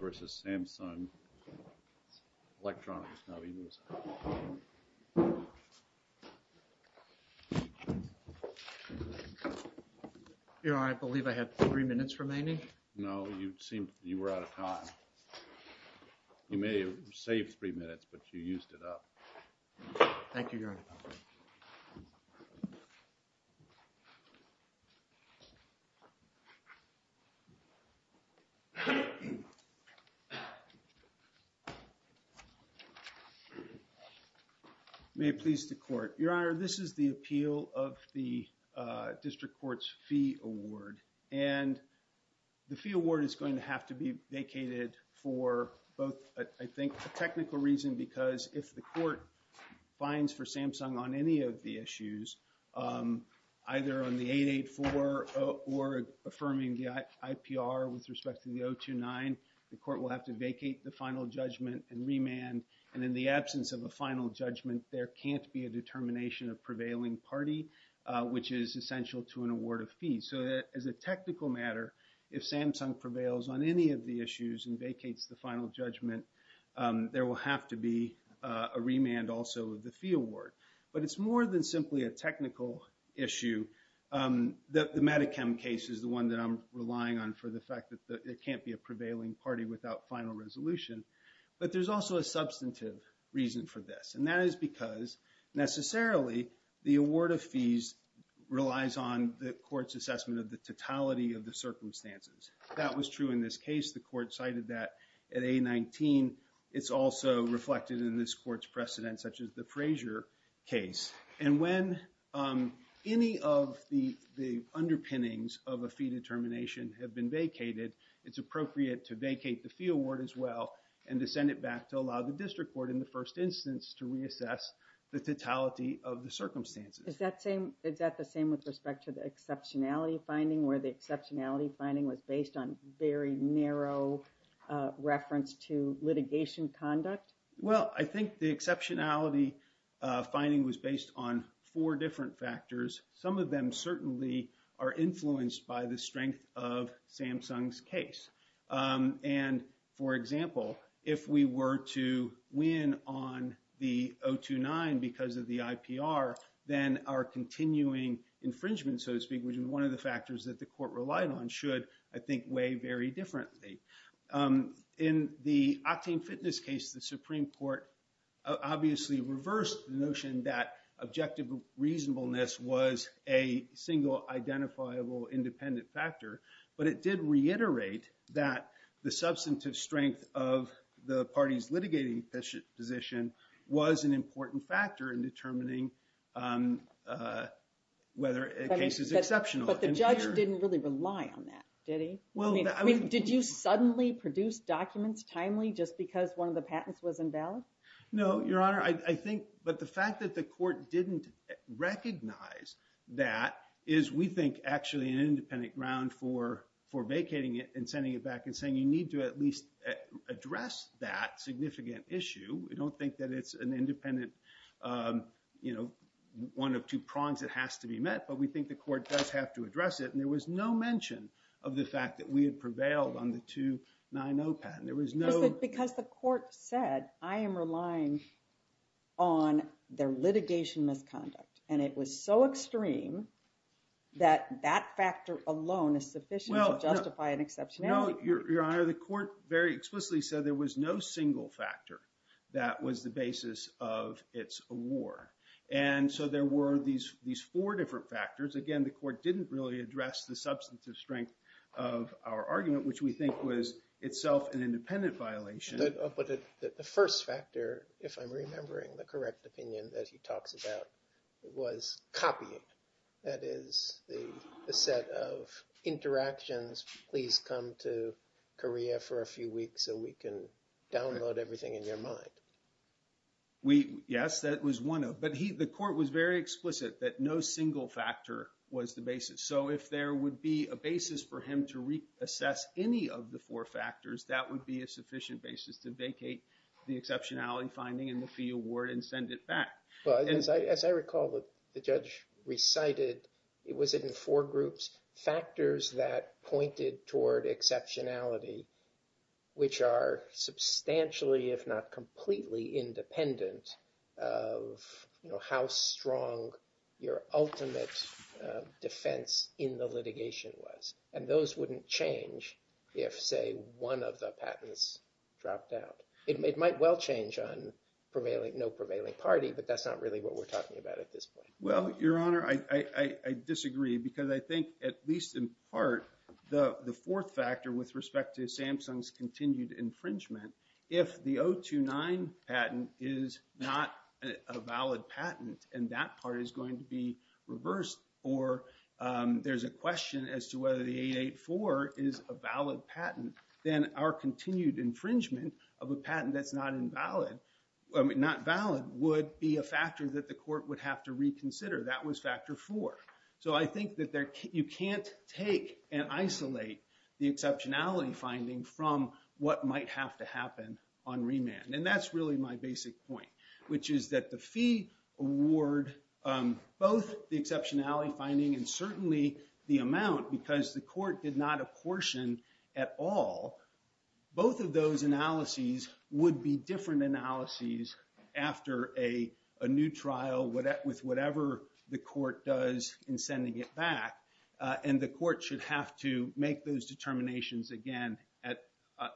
Versus Samsung electronics now, he was. I believe I have 3 minutes remaining. No, you seem you were out of time. You may have saved 3 minutes, but you used it up. Thank you, your honor. May it please the court, your honor. This is the appeal of the district courts fee award and. The fee award is going to have to be vacated for both, I think, a technical reason, because if the court finds for Samsung on any of the issues, either on the 884 or affirming the IPR with respect to the 029, the court will have to vacate the final judgment and remand and in the absence of a final judgment. There can't be a determination of prevailing party, which is essential to an award of fees. So, as a technical matter, if Samsung prevails on any of the issues and vacates the final judgment, there will have to be a remand also of the fee award, but it's more than simply a technical issue that the case is the one that I'm relying on for the fact that it can't be a prevailing party without final resolution. But there's also a substantive reason for this, and that is because necessarily the award of fees relies on the court's assessment of the totality of the circumstances. That was true in this case. The court cited that at a 19. it's also reflected in this court's precedent, such as the Frazier case, and when any of the underpinnings of a fee determination have been vacated, it's appropriate to vacate the fee award as well. And to send it back to allow the district court in the first instance to reassess the totality of the circumstances. Is that same? Is that the same with respect to the exceptionality finding where the exceptionality finding was based on very narrow reference to litigation conduct? Well, I think the exceptionality finding was based on four different factors. Some of them certainly are influenced by the strength of Samsung's case. And, for example, if we were to win on the 029 because of the IPR, then our continuing infringement, so to speak, which is one of the factors that the court relied on, should, I think, weigh very differently. In the Octane Fitness case, the Supreme Court obviously reversed the notion that objective reasonableness was a single, identifiable, independent factor. But it did reiterate that the substantive strength of the party's litigating position was an important factor in determining whether a case is exceptional. But the judge didn't really rely on that, did he? I mean, did you suddenly produce documents timely just because one of the patents was invalid? No, Your Honor. But the fact that the court didn't recognize that is, we think, actually an independent ground for vacating it and sending it back and saying you need to at least address that significant issue. We don't think that it's an independent, you know, one of two prongs that has to be met. But we think the court does have to address it. And there was no mention of the fact that we had prevailed on the 290 patent. There was no... Because the court said, I am relying on their litigation misconduct. And it was so extreme that that factor alone is sufficient to justify an exceptionality. Well, Your Honor, the court very explicitly said there was no single factor that was the basis of its award. And so there were these four different factors. Again, the court didn't really address the substantive strength of our argument, which we think was itself an independent violation. But the first factor, if I'm remembering the correct opinion that he talks about, was copying. That is, the set of interactions, please come to Korea for a few weeks so we can download everything in your mind. Yes, that was one of... But the court was very explicit that no single factor was the basis. So if there would be a basis for him to reassess any of the four factors, that would be a sufficient basis to vacate the exceptionality finding and the fee award and send it back. Well, as I recall, the judge recited, it was in four groups, factors that pointed toward exceptionality, which are substantially, if not completely, independent of how strong your ultimate defense in the litigation was. And those wouldn't change if, say, one of the patents dropped out. It might well change on no prevailing party, but that's not really what we're talking about at this point. Well, Your Honor, I disagree because I think, at least in part, the fourth factor with respect to Samsung's continued infringement, if the 029 patent is not a valid patent and that part is going to be reversed, or there's a question as to whether the 884 is a valid patent, then our continued infringement of a patent that's not valid would be a factor that the court would have to reconsider. That was factor four. So I think that you can't take and isolate the exceptionality finding from what might have to happen on remand. And that's really my basic point, which is that the fee award, both the exceptionality finding and certainly the amount, because the court did not apportion at all, both of those analyses would be different analyses after a new trial with whatever the court does in sending it back. And the court should have to make those determinations again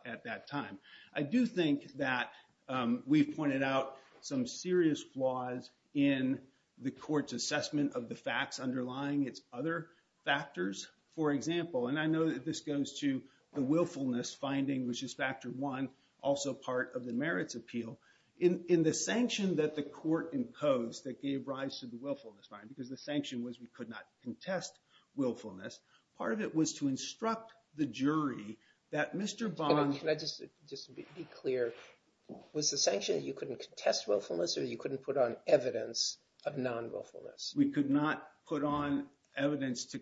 at that time. I do think that we've pointed out some serious flaws in the court's assessment of the facts underlying its other factors. For example, and I know that this goes to the willfulness finding, which is factor one, also part of the merits appeal. In the sanction that the court imposed that gave rise to the willfulness finding, because the sanction was we could not contest willfulness, part of it was to instruct the jury that Mr. Bond— Can I just be clear? Was the sanction that you couldn't contest willfulness or you couldn't put on evidence of non-willfulness? We could not put on evidence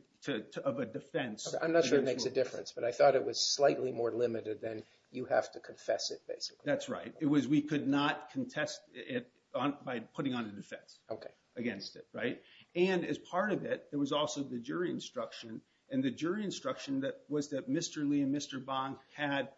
of a defense. I'm not sure it makes a difference, but I thought it was slightly more limited than you have to confess it, basically. That's right. It was we could not contest it by putting on a defense against it, right? And as part of it, there was also the jury instruction. And the jury instruction was that Mr. Lee and Mr. Bond had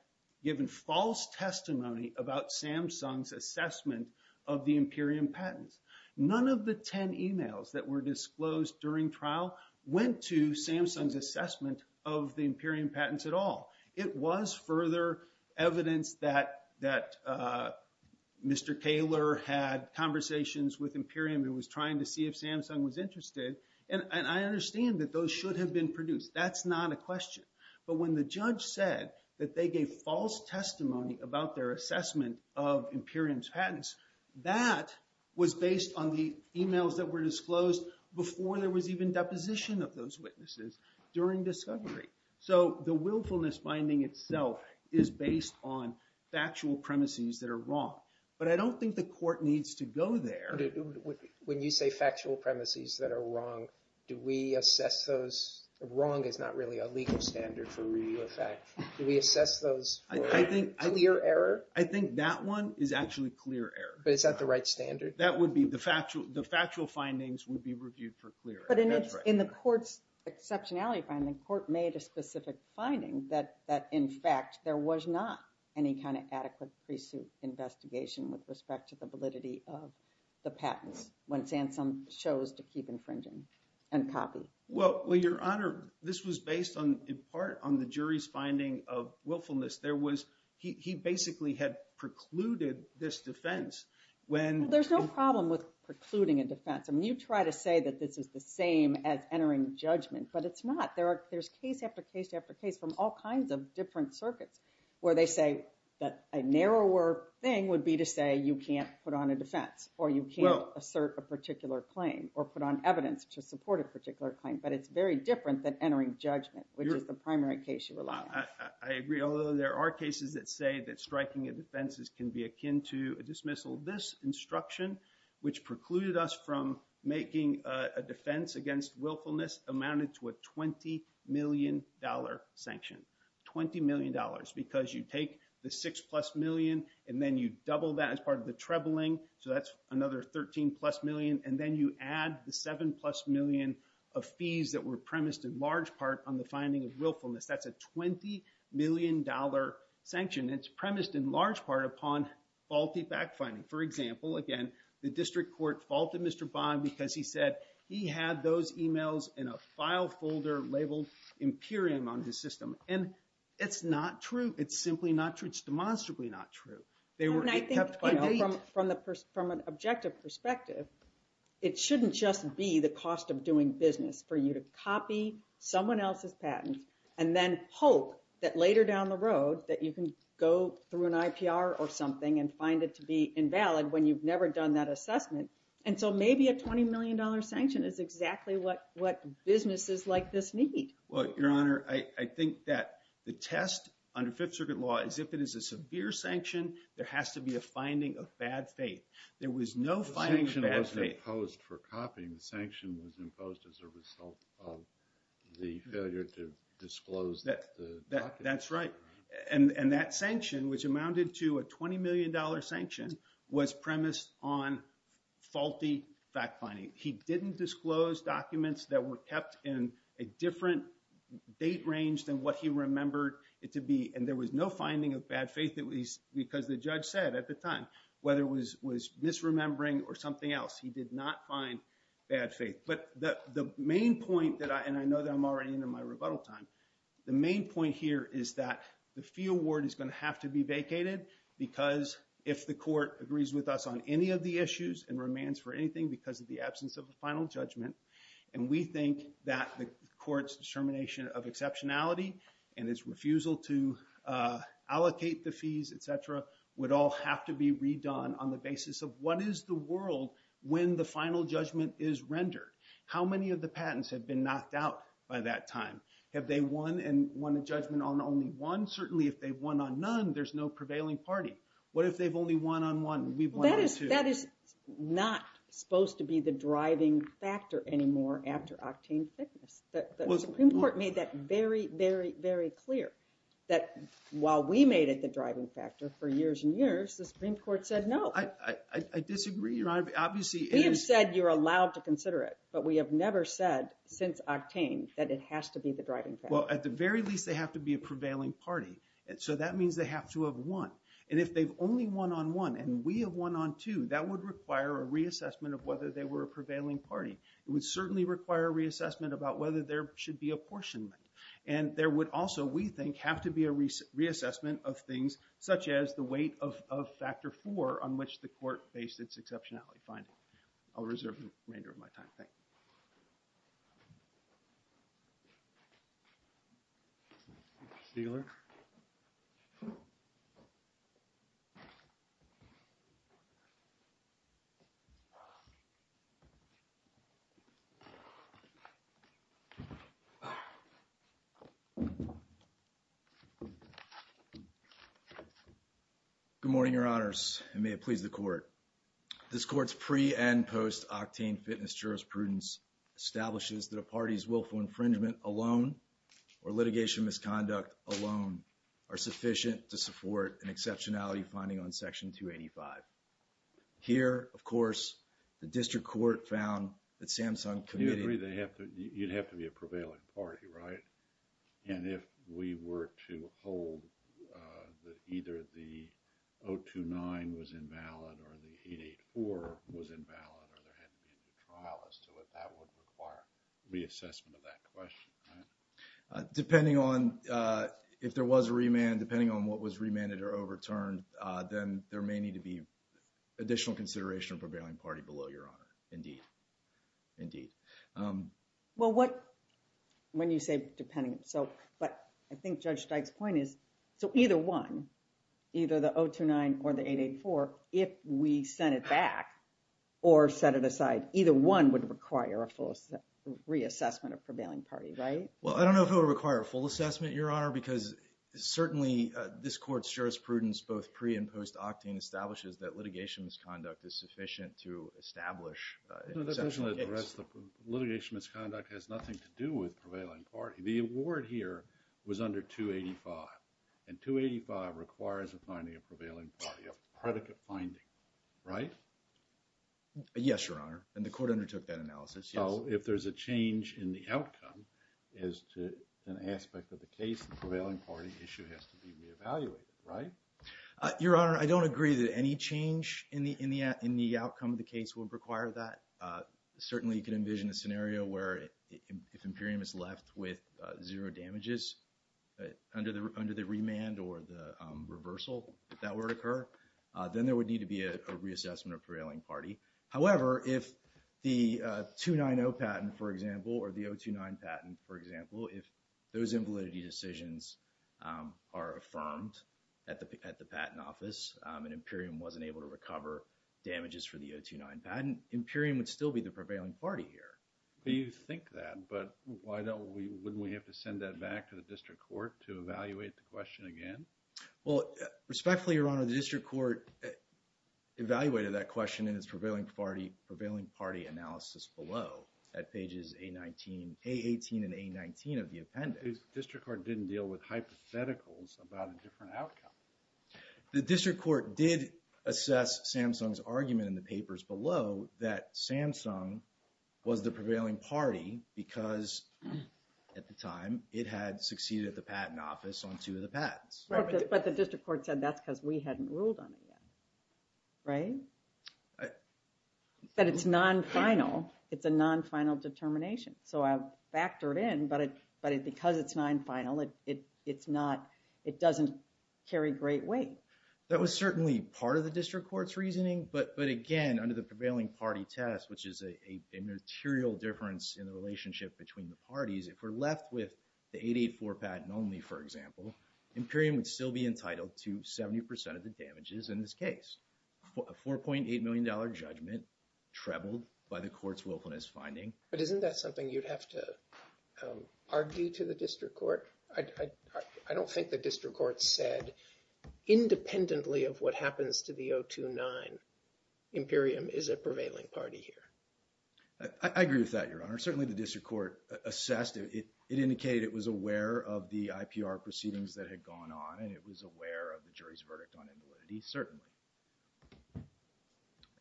given false testimony about Samsung's assessment of the Imperium patents. None of the 10 emails that were disclosed during trial went to Samsung's assessment of the Imperium patents at all. It was further evidence that Mr. Taylor had conversations with Imperium who was trying to see if Samsung was interested. And I understand that those should have been produced. That's not a question. But when the judge said that they gave false testimony about their assessment of Imperium's patents, that was based on the emails that were disclosed before there was even deposition of those witnesses during discovery. So the willfulness finding itself is based on factual premises that are wrong. But I don't think the court needs to go there. When you say factual premises that are wrong, do we assess those? Wrong is not really a legal standard for review of fact. Do we assess those for clear error? I think that one is actually clear error. But is that the right standard? That would be the factual findings would be reviewed for clear error. But in the court's exceptionality finding, the court made a specific finding that in fact there was not any kind of adequate pre-suit investigation with respect to the validity of the patents when Samsung chose to keep infringing and copy. Well, Your Honor, this was based in part on the jury's finding of willfulness. He basically had precluded this defense. There's no problem with precluding a defense. I mean, you try to say that this is the same as entering judgment, but it's not. There's case after case after case from all kinds of different circuits where they say that a narrower thing would be to say you can't put on a defense or you can't assert a particular claim or put on evidence to support a particular claim. But it's very different than entering judgment, which is the primary case you rely on. I agree, although there are cases that say that striking a defense can be akin to a dismissal. This instruction, which precluded us from making a defense against willfulness, amounted to a $20 million sanction. $20 million because you take the six plus million and then you double that as part of the trebling. So that's another 13 plus million. And then you add the seven plus million of fees that were premised in large part on the finding of willfulness. That's a $20 million sanction. It's premised in large part upon faulty backfinding. For example, again, the district court faulted Mr. Bond because he said he had those emails in a file folder labeled Imperium on his system. And it's not true. It's simply not true. It's demonstrably not true. From an objective perspective, it shouldn't just be the cost of doing business for you to copy someone else's patent and then hope that later down the road that you can go through an IPR or something and find it to be invalid when you've never done that assessment. And so maybe a $20 million sanction is exactly what businesses like this need. Well, Your Honor, I think that the test under Fifth Circuit law is if it is a severe sanction, there has to be a finding of bad faith. There was no finding of bad faith. The sanction was imposed for copying. The sanction was imposed as a result of the failure to disclose the document. That's right. And that sanction, which amounted to a $20 million sanction, was premised on faulty backfinding. He didn't disclose documents that were kept in a different date range than what he remembered it to be. And there was no finding of bad faith because the judge said at the time, whether it was misremembering or something else, he did not find bad faith. But the main point, and I know that I'm already in my rebuttal time, the main point here is that the fee award is going to have to be vacated because if the court agrees with us on any of the issues and remands for anything because of the absence of a final judgment, and we think that the court's determination of exceptionality and its refusal to allocate the fees, et cetera, would all have to be redone on the basis of what is the world when the final judgment is rendered? How many of the patents have been knocked out by that time? Have they won and won a judgment on only one? Certainly, if they've won on none, there's no prevailing party. What if they've only won on one and we've won on two? That is not supposed to be the driving factor anymore after octane thickness. The Supreme Court made that very, very, very clear that while we made it the driving factor for years and years, the Supreme Court said no. I disagree, Your Honor. We have said you're allowed to consider it, but we have never said since octane that it has to be the driving factor. Well, at the very least, they have to be a prevailing party. So that means they have to have won. And if they've only won on one and we have won on two, that would require a reassessment of whether they were a prevailing party. It would certainly require a reassessment about whether there should be apportionment. And there would also, we think, have to be a reassessment of things such as the weight of factor four on which the court based its exceptionality finding. I'll reserve the remainder of my time. Thank you. Stegler. Good morning, Your Honors, and may it please the court. This court's pre- and post-octane fitness jurisprudence establishes that a party's willful infringement alone or litigation misconduct alone are sufficient to support an exceptionality finding on Section 285. Here, of course, the district court found that Samsung committed... You agree they have to, you'd have to be a prevailing party, right? And if we were to hold that either the 029 was invalid or the 884 was invalid or there had to be a new trial as to it, that would require reassessment of that question, right? Depending on if there was a remand, depending on what was remanded or overturned, then there may need to be additional consideration of prevailing party below, Your Honor. Indeed. Indeed. Well, when you say depending, but I think Judge Steig's point is, so either one, either the 029 or the 884, if we sent it back or set it aside, either one would require a full reassessment of prevailing party, right? Well, I don't know if it would require a full assessment, Your Honor, because certainly this court's jurisprudence, both pre- and post-octane, establishes that litigation misconduct is sufficient to establish an exceptional case. No, that doesn't address the, litigation misconduct has nothing to do with prevailing party. The award here was under 285, and 285 requires a finding of prevailing party, a predicate finding, right? Yes, Your Honor, and the court undertook that analysis, yes. So, if there's a change in the outcome as to an aspect of the case, the prevailing party issue has to be reevaluated, right? Your Honor, I don't agree that any change in the outcome of the case would require that. Certainly, you can envision a scenario where if Imperium is left with zero damages under the remand or the reversal that were to occur, then there would need to be a reassessment of prevailing party. However, if the 290 patent, for example, or the 029 patent, for example, if those invalidity decisions are affirmed at the patent office, and Imperium wasn't able to recover damages for the 029 patent, Imperium would still be the prevailing party here. You think that, but why don't we, wouldn't we have to send that back to the district court to evaluate the question again? Well, respectfully, Your Honor, the district court evaluated that question in its prevailing party analysis below at pages A18 and A19 of the appendix. The district court didn't deal with hypotheticals about a different outcome. The district court did assess Samsung's argument in the papers below that Samsung was the prevailing party because, at the time, it had succeeded at the patent office on two of the patents. But the district court said that's because we hadn't ruled on it yet. Right? But it's non-final. It's a non-final determination. So I've factored in, but because it's non-final, it's not, it doesn't carry great weight. That was certainly part of the district court's reasoning, but again, under the prevailing party test, which is a material difference in the relationship between the parties, if we're left with the 884 patent only, for example, Imperium would still be entitled to 70% of the damages in this case. A $4.8 million judgment trebled by the court's willfulness finding. But isn't that something you'd have to argue to the district court? I don't think the district court said independently of what happens to the 029, Imperium is a prevailing party here. I agree with that, Your Honor. Certainly the district court assessed it. It indicated it was aware of the IPR proceedings that had gone on, and it was aware of the jury's verdict on invalidity, certainly.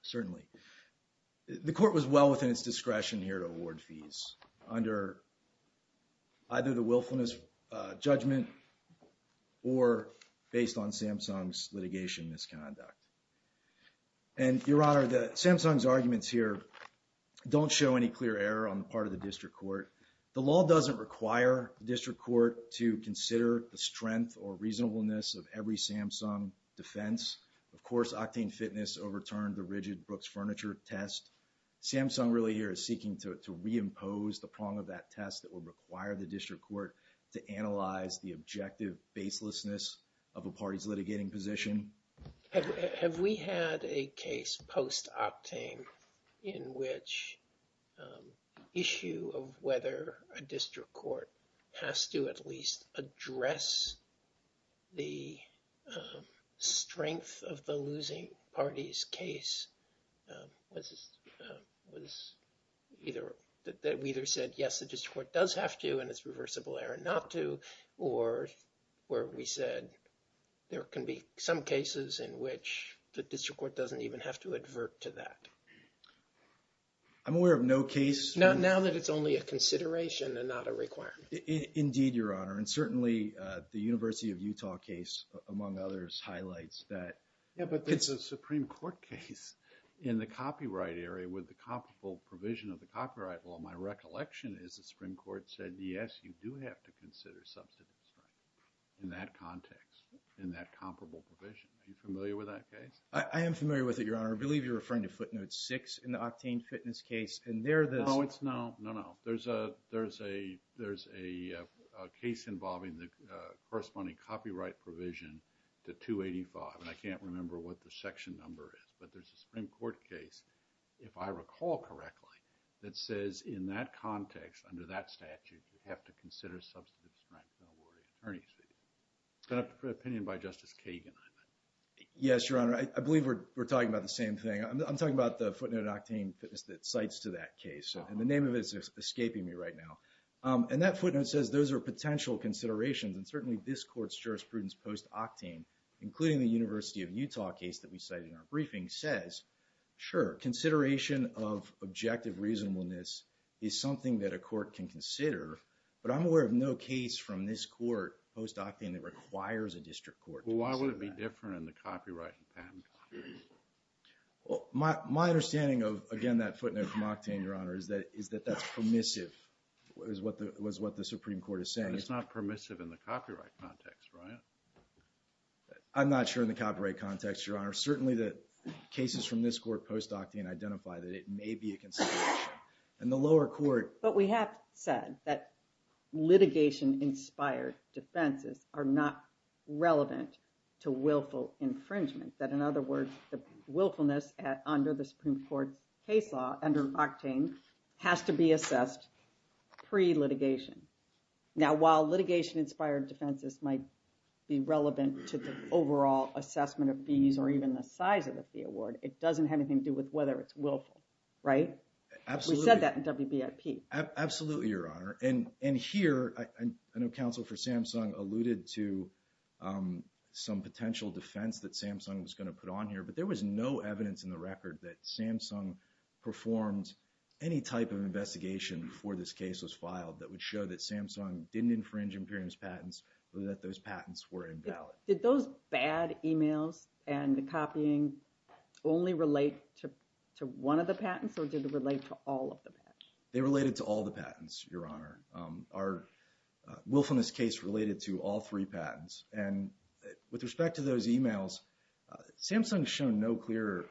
Certainly. The court was well within its discretion here to award fees under either the willfulness judgment or based on Samsung's litigation misconduct. And, Your Honor, Samsung's arguments here don't show any clear error on the part of the district court. The law doesn't require the district court to consider the strength or reasonableness of every Samsung defense. Of course, Octane Fitness overturned the rigid Brooks Furniture test. Samsung really here is seeking to reimpose the prong of that test that would require the district court to analyze the objective baselessness of a party's litigating position. Have we had a case post-Octane in which issue of whether a district court has to at least address the strength of the losing party's case? We either said, yes, the district court does have to, and it's reversible error not to, or where we said there can be some cases in which the district court doesn't even have to advert to that. I'm aware of no case. Now that it's only a consideration and not a requirement. Indeed, Your Honor. And certainly, the University of Utah case, among others, highlights that. Yeah, but there's a Supreme Court case in the copyright area with the comparable provision of the copyright law. My recollection is the Supreme Court said, yes, you do have to consider substantive strength in that context, in that comparable provision. Are you familiar with that case? I am familiar with it, Your Honor. I believe you're referring to footnote six in the Octane Fitness case. No, it's not. No, no. There's a case involving the corresponding copyright provision to 285, and I can't remember what the section number is. But there's a Supreme Court case, if I recall correctly, that says in that context, under that statute, you have to consider substantive strength. Don't worry. It's an opinion by Justice Kagan. Yes, Your Honor. I believe we're talking about the same thing. I'm talking about the footnote in Octane Fitness that cites to that case. And the name of it is escaping me right now. And that footnote says those are potential considerations. And certainly, this Court's jurisprudence post-Octane, including the University of Utah case that we cited in our briefing, says, sure, consideration of objective reasonableness is something that a court can consider. But I'm aware of no case from this Court post-Octane that requires a district court to consider that. Well, my understanding of, again, that footnote from Octane, Your Honor, is that that's permissive, is what the Supreme Court is saying. But it's not permissive in the copyright context, right? I'm not sure in the copyright context, Your Honor. Certainly, the cases from this Court post-Octane identify that it may be a consideration. But we have said that litigation-inspired defenses are not relevant to willful infringement. That, in other words, the willfulness under the Supreme Court's case law, under Octane, has to be assessed pre-litigation. Now, while litigation-inspired defenses might be relevant to the overall assessment of fees or even the size of the fee award, it doesn't have anything to do with whether it's willful, right? Absolutely. We said that in WBIP. Absolutely, Your Honor. And here, I know counsel for Samsung alluded to some potential defense that Samsung was going to put on here. But there was no evidence in the record that Samsung performed any type of investigation before this case was filed that would show that Samsung didn't infringe Imperium's patents or that those patents were invalid. Did those bad emails and the copying only relate to one of the patents, or did it relate to all of the patents? They related to all the patents, Your Honor. Our willfulness case related to all three patents. And with respect to those emails, Samsung has shown no clear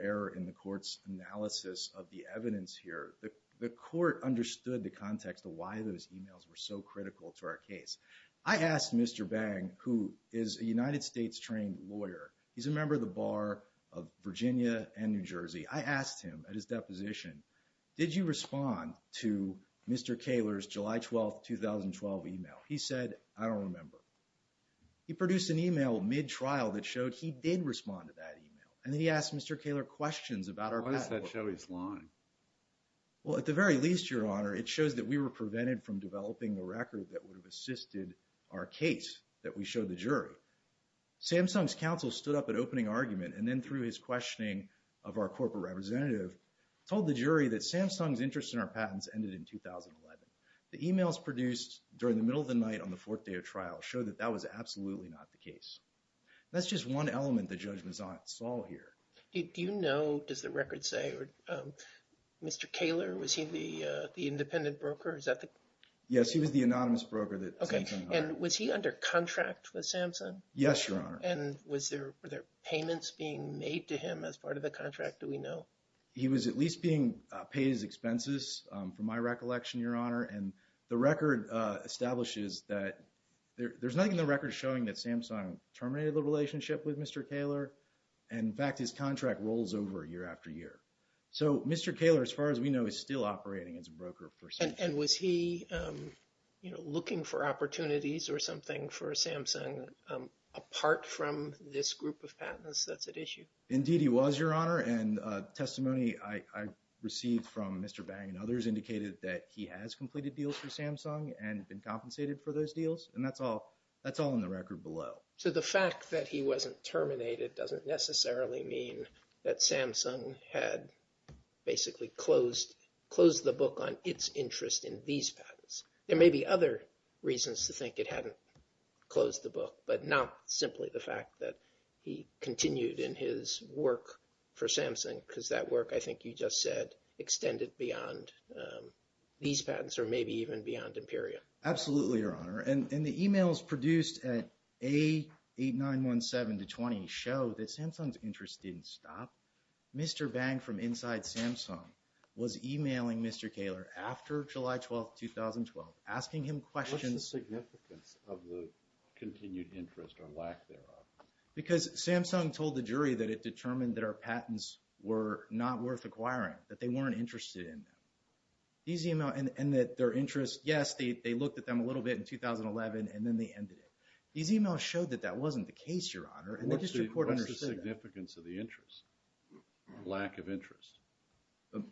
error in the Court's analysis of the evidence here. The Court understood the context of why those emails were so critical to our case. I asked Mr. Bang, who is a United States-trained lawyer. He's a member of the Bar of Virginia and New Jersey. I asked him at his deposition, did you respond to Mr. Kaler's July 12, 2012 email? He said, I don't remember. He produced an email mid-trial that showed he did respond to that email. And then he asked Mr. Kaler questions about our patent. Why does that show his line? Well, at the very least, Your Honor, it shows that we were prevented from developing a record that would have assisted our case that we showed the jury. Samsung's counsel stood up at opening argument, and then through his questioning of our corporate representative, told the jury that Samsung's interest in our patents ended in 2011. The emails produced during the middle of the night on the fourth day of trial showed that that was absolutely not the case. That's just one element that Judge Mazzott saw here. Do you know, does the record say, Mr. Kaler, was he the independent broker? Yes, he was the anonymous broker that Samsung hired. And was he under contract with Samsung? Yes, Your Honor. And were there payments being made to him as part of the contract? Do we know? He was at least being paid his expenses, from my recollection, Your Honor. And the record establishes that there's nothing in the record showing that Samsung terminated the relationship with Mr. Kaler. In fact, his contract rolls over year after year. So, Mr. Kaler, as far as we know, is still operating as a broker for Samsung. And was he looking for opportunities or something for Samsung, apart from this group of patents that's at issue? Indeed, he was, Your Honor. And testimony I received from Mr. Bang and others indicated that he has completed deals for Samsung and been compensated for those deals. And that's all in the record below. So, the fact that he wasn't terminated doesn't necessarily mean that Samsung had basically closed the book on its interest in these patents. There may be other reasons to think it hadn't closed the book, but not simply the fact that he continued in his work for Samsung, because that work, I think you just said, extended beyond these patents or maybe even beyond Imperium. Absolutely, Your Honor. And the emails produced at A8917-20 show that Samsung's interest didn't stop. Mr. Bang from inside Samsung was emailing Mr. Kaler after July 12, 2012, asking him questions. What's the significance of the continued interest or lack thereof? Because Samsung told the jury that it determined that our patents were not worth acquiring, that they weren't interested in them. These emails, and that their interest, yes, they looked at them a little bit in 2011, and then they ended it. These emails showed that that wasn't the case, Your Honor, and the district court understood that. What's the significance of the interest, lack of interest?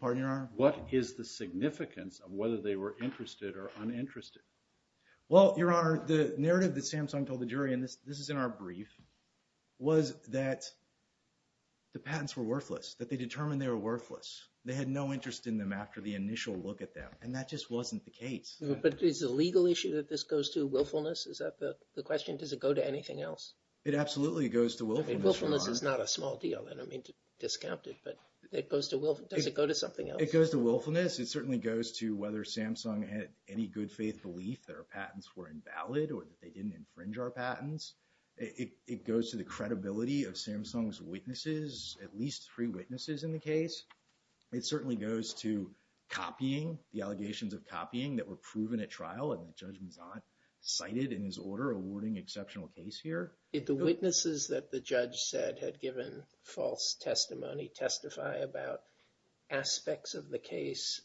Pardon, Your Honor? What is the significance of whether they were interested or uninterested? Well, Your Honor, the narrative that Samsung told the jury, and this is in our brief, was that the patents were worthless, that they determined they were worthless. They had no interest in them after the initial look at them, and that just wasn't the case. But is the legal issue that this goes to willfulness? Is that the question? Does it go to anything else? It absolutely goes to willfulness, Your Honor. I mean, willfulness is not a small deal. I don't mean to discount it, but it goes to willfulness. Does it go to something else? It goes to willfulness. It certainly goes to whether Samsung had any good faith belief that our patents were invalid or that they didn't infringe our patents. It goes to the credibility of Samsung's witnesses, at least three witnesses in the case. It certainly goes to copying, the allegations of copying that were proven at trial and the judge was not cited in his order awarding exceptional case here. Did the witnesses that the judge said had given false testimony testify about aspects of the case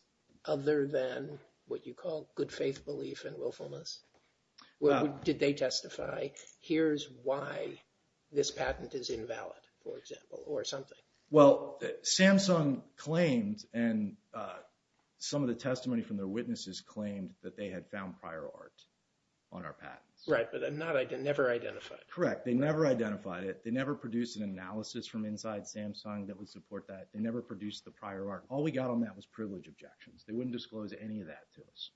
other than what you call good faith belief and willfulness? Did they testify, here's why this patent is invalid, for example, or something? Well, Samsung claimed and some of the testimony from their witnesses claimed that they had found prior art on our patents. Right, but they never identified it. Correct. They never identified it. They never produced an analysis from inside Samsung that would support that. They never produced the prior art. All we got on that was privilege objections. They wouldn't disclose any of that to us.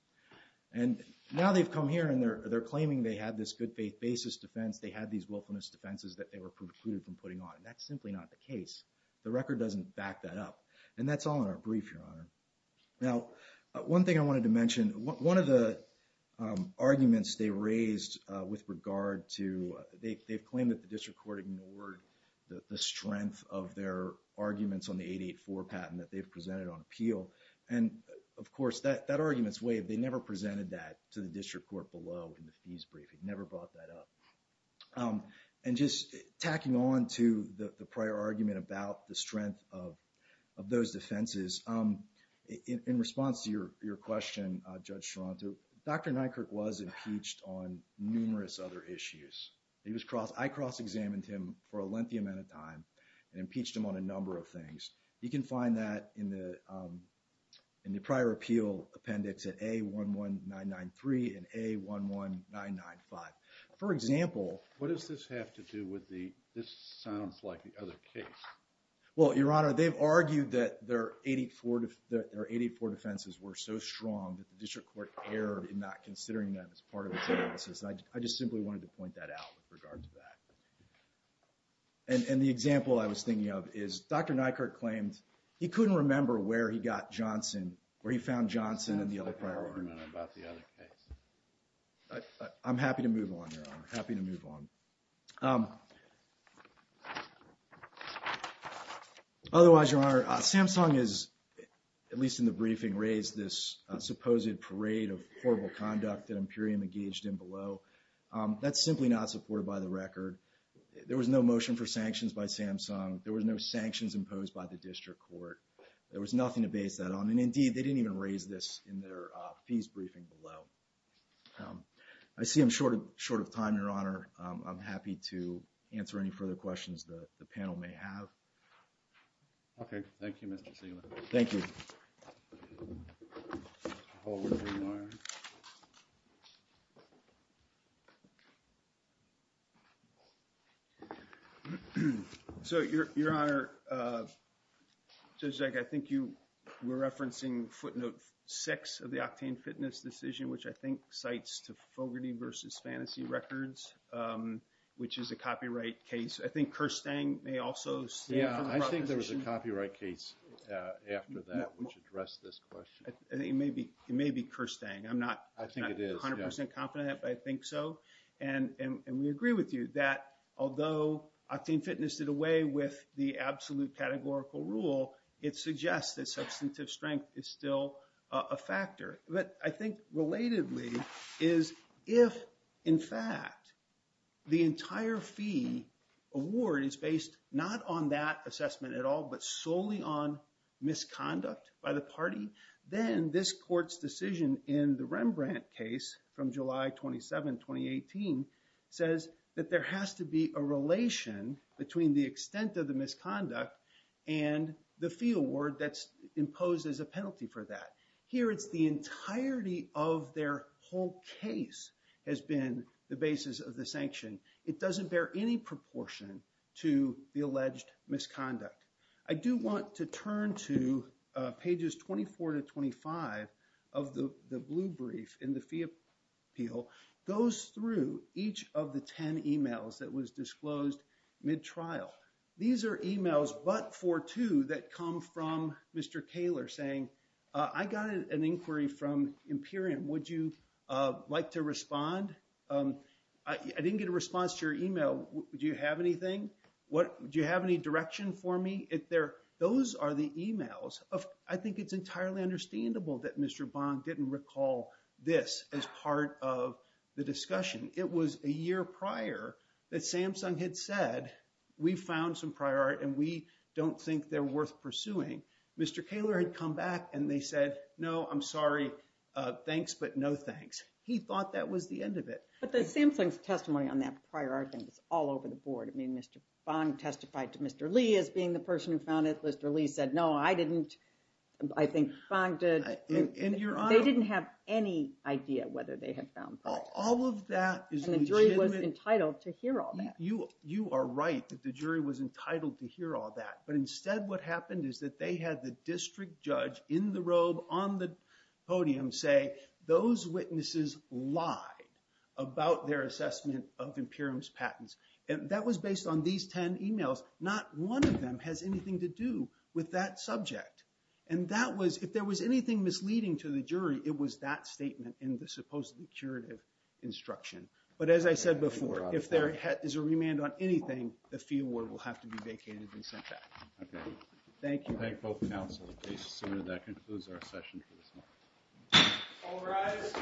And now they've come here and they're claiming they had this good faith basis defense. They had these willfulness defenses that they were precluded from putting on. And that's simply not the case. The record doesn't back that up. And that's all in our brief, Your Honor. Now, one thing I wanted to mention, one of the arguments they raised with regard to, they've claimed that the district court ignored the strength of their arguments on the 884 patent that they've presented on appeal. And, of course, that argument's waived. They never presented that to the district court below in the fees briefing. Never brought that up. And just tacking on to the prior argument about the strength of those defenses, in response to your question, Judge Toronto, Dr. Nykerk was impeached on numerous other issues. I cross-examined him for a lengthy amount of time and impeached him on a number of things. You can find that in the prior appeal appendix at A11993 and A11995. For example. What does this have to do with the, this sounds like the other case. Well, Your Honor, they've argued that their 884 defenses were so strong that the district court erred in not considering them as part of its evidence. I just simply wanted to point that out with regard to that. And the example I was thinking of is Dr. Nykerk claimed he couldn't remember where he got Johnson, where he found Johnson in the other prior argument. That's the prior argument about the other case. I'm happy to move on, Your Honor. Happy to move on. Otherwise, Your Honor, Samsung has, at least in the briefing, raised this supposed parade of horrible conduct that Imperium engaged in below. That's simply not supported by the record. There was no motion for sanctions by Samsung. There was no sanctions imposed by the district court. There was nothing to base that on. And indeed, they didn't even raise this in their fees briefing below. I see I'm short of time, Your Honor. I'm happy to answer any further questions that the panel may have. Okay. Thank you, Mr. Zeland. Thank you. So, Your Honor, Judge Zek, I think you were referencing footnote six of the Octane Fitness decision, which I think cites to Fogarty v. Fantasy Records, which is a copyright case. I think Kerstang may also stand for the proposition. Yeah, I think there was a copyright case after that which addressed this question. It may be Kerstang. I'm not 100 percent confident. But I think so. And we agree with you that although Octane Fitness did away with the absolute categorical rule, it suggests that substantive strength is still a factor. But I think relatedly is if, in fact, the entire fee award is based not on that assessment at all but solely on misconduct by the party, then this court's decision in the Rembrandt case from July 27, 2018, says that there has to be a relation between the extent of the misconduct and the fee award that's imposed as a penalty for that. Here it's the entirety of their whole case has been the basis of the sanction. It doesn't bear any proportion to the alleged misconduct. I do want to turn to pages 24 to 25 of the blue brief in the fee appeal. It goes through each of the ten emails that was disclosed mid-trial. These are emails but for two that come from Mr. Kaler saying, I got an inquiry from Imperium. Would you like to respond? I didn't get a response to your email. Do you have anything? Do you have any direction for me? Those are the emails. I think it's entirely understandable that Mr. Bong didn't recall this as part of the discussion. It was a year prior that Samsung had said, we found some prior art and we don't think they're worth pursuing. Mr. Kaler had come back and they said, no, I'm sorry. Thanks, but no thanks. He thought that was the end of it. But the Samsung's testimony on that prior art thing was all over the board. I mean, Mr. Bong testified to Mr. Lee as being the person who found it. Mr. Lee said, no, I didn't. I think Bong did. They didn't have any idea whether they had found prior art. All of that is legitimate. And the jury was entitled to hear all that. You are right that the jury was entitled to hear all that. But instead what happened is that they had the district judge in the robe on the podium say, those witnesses lied about their assessment of Imperium's patents. That was based on these 10 emails. Not one of them has anything to do with that subject. And that was, if there was anything misleading to the jury, it was that statement in the supposedly curative instruction. But as I said before, if there is a remand on anything, the fee award will have to be vacated and sent back. Thank you. Thank both counsels. I assume that concludes our session for this morning. All rise.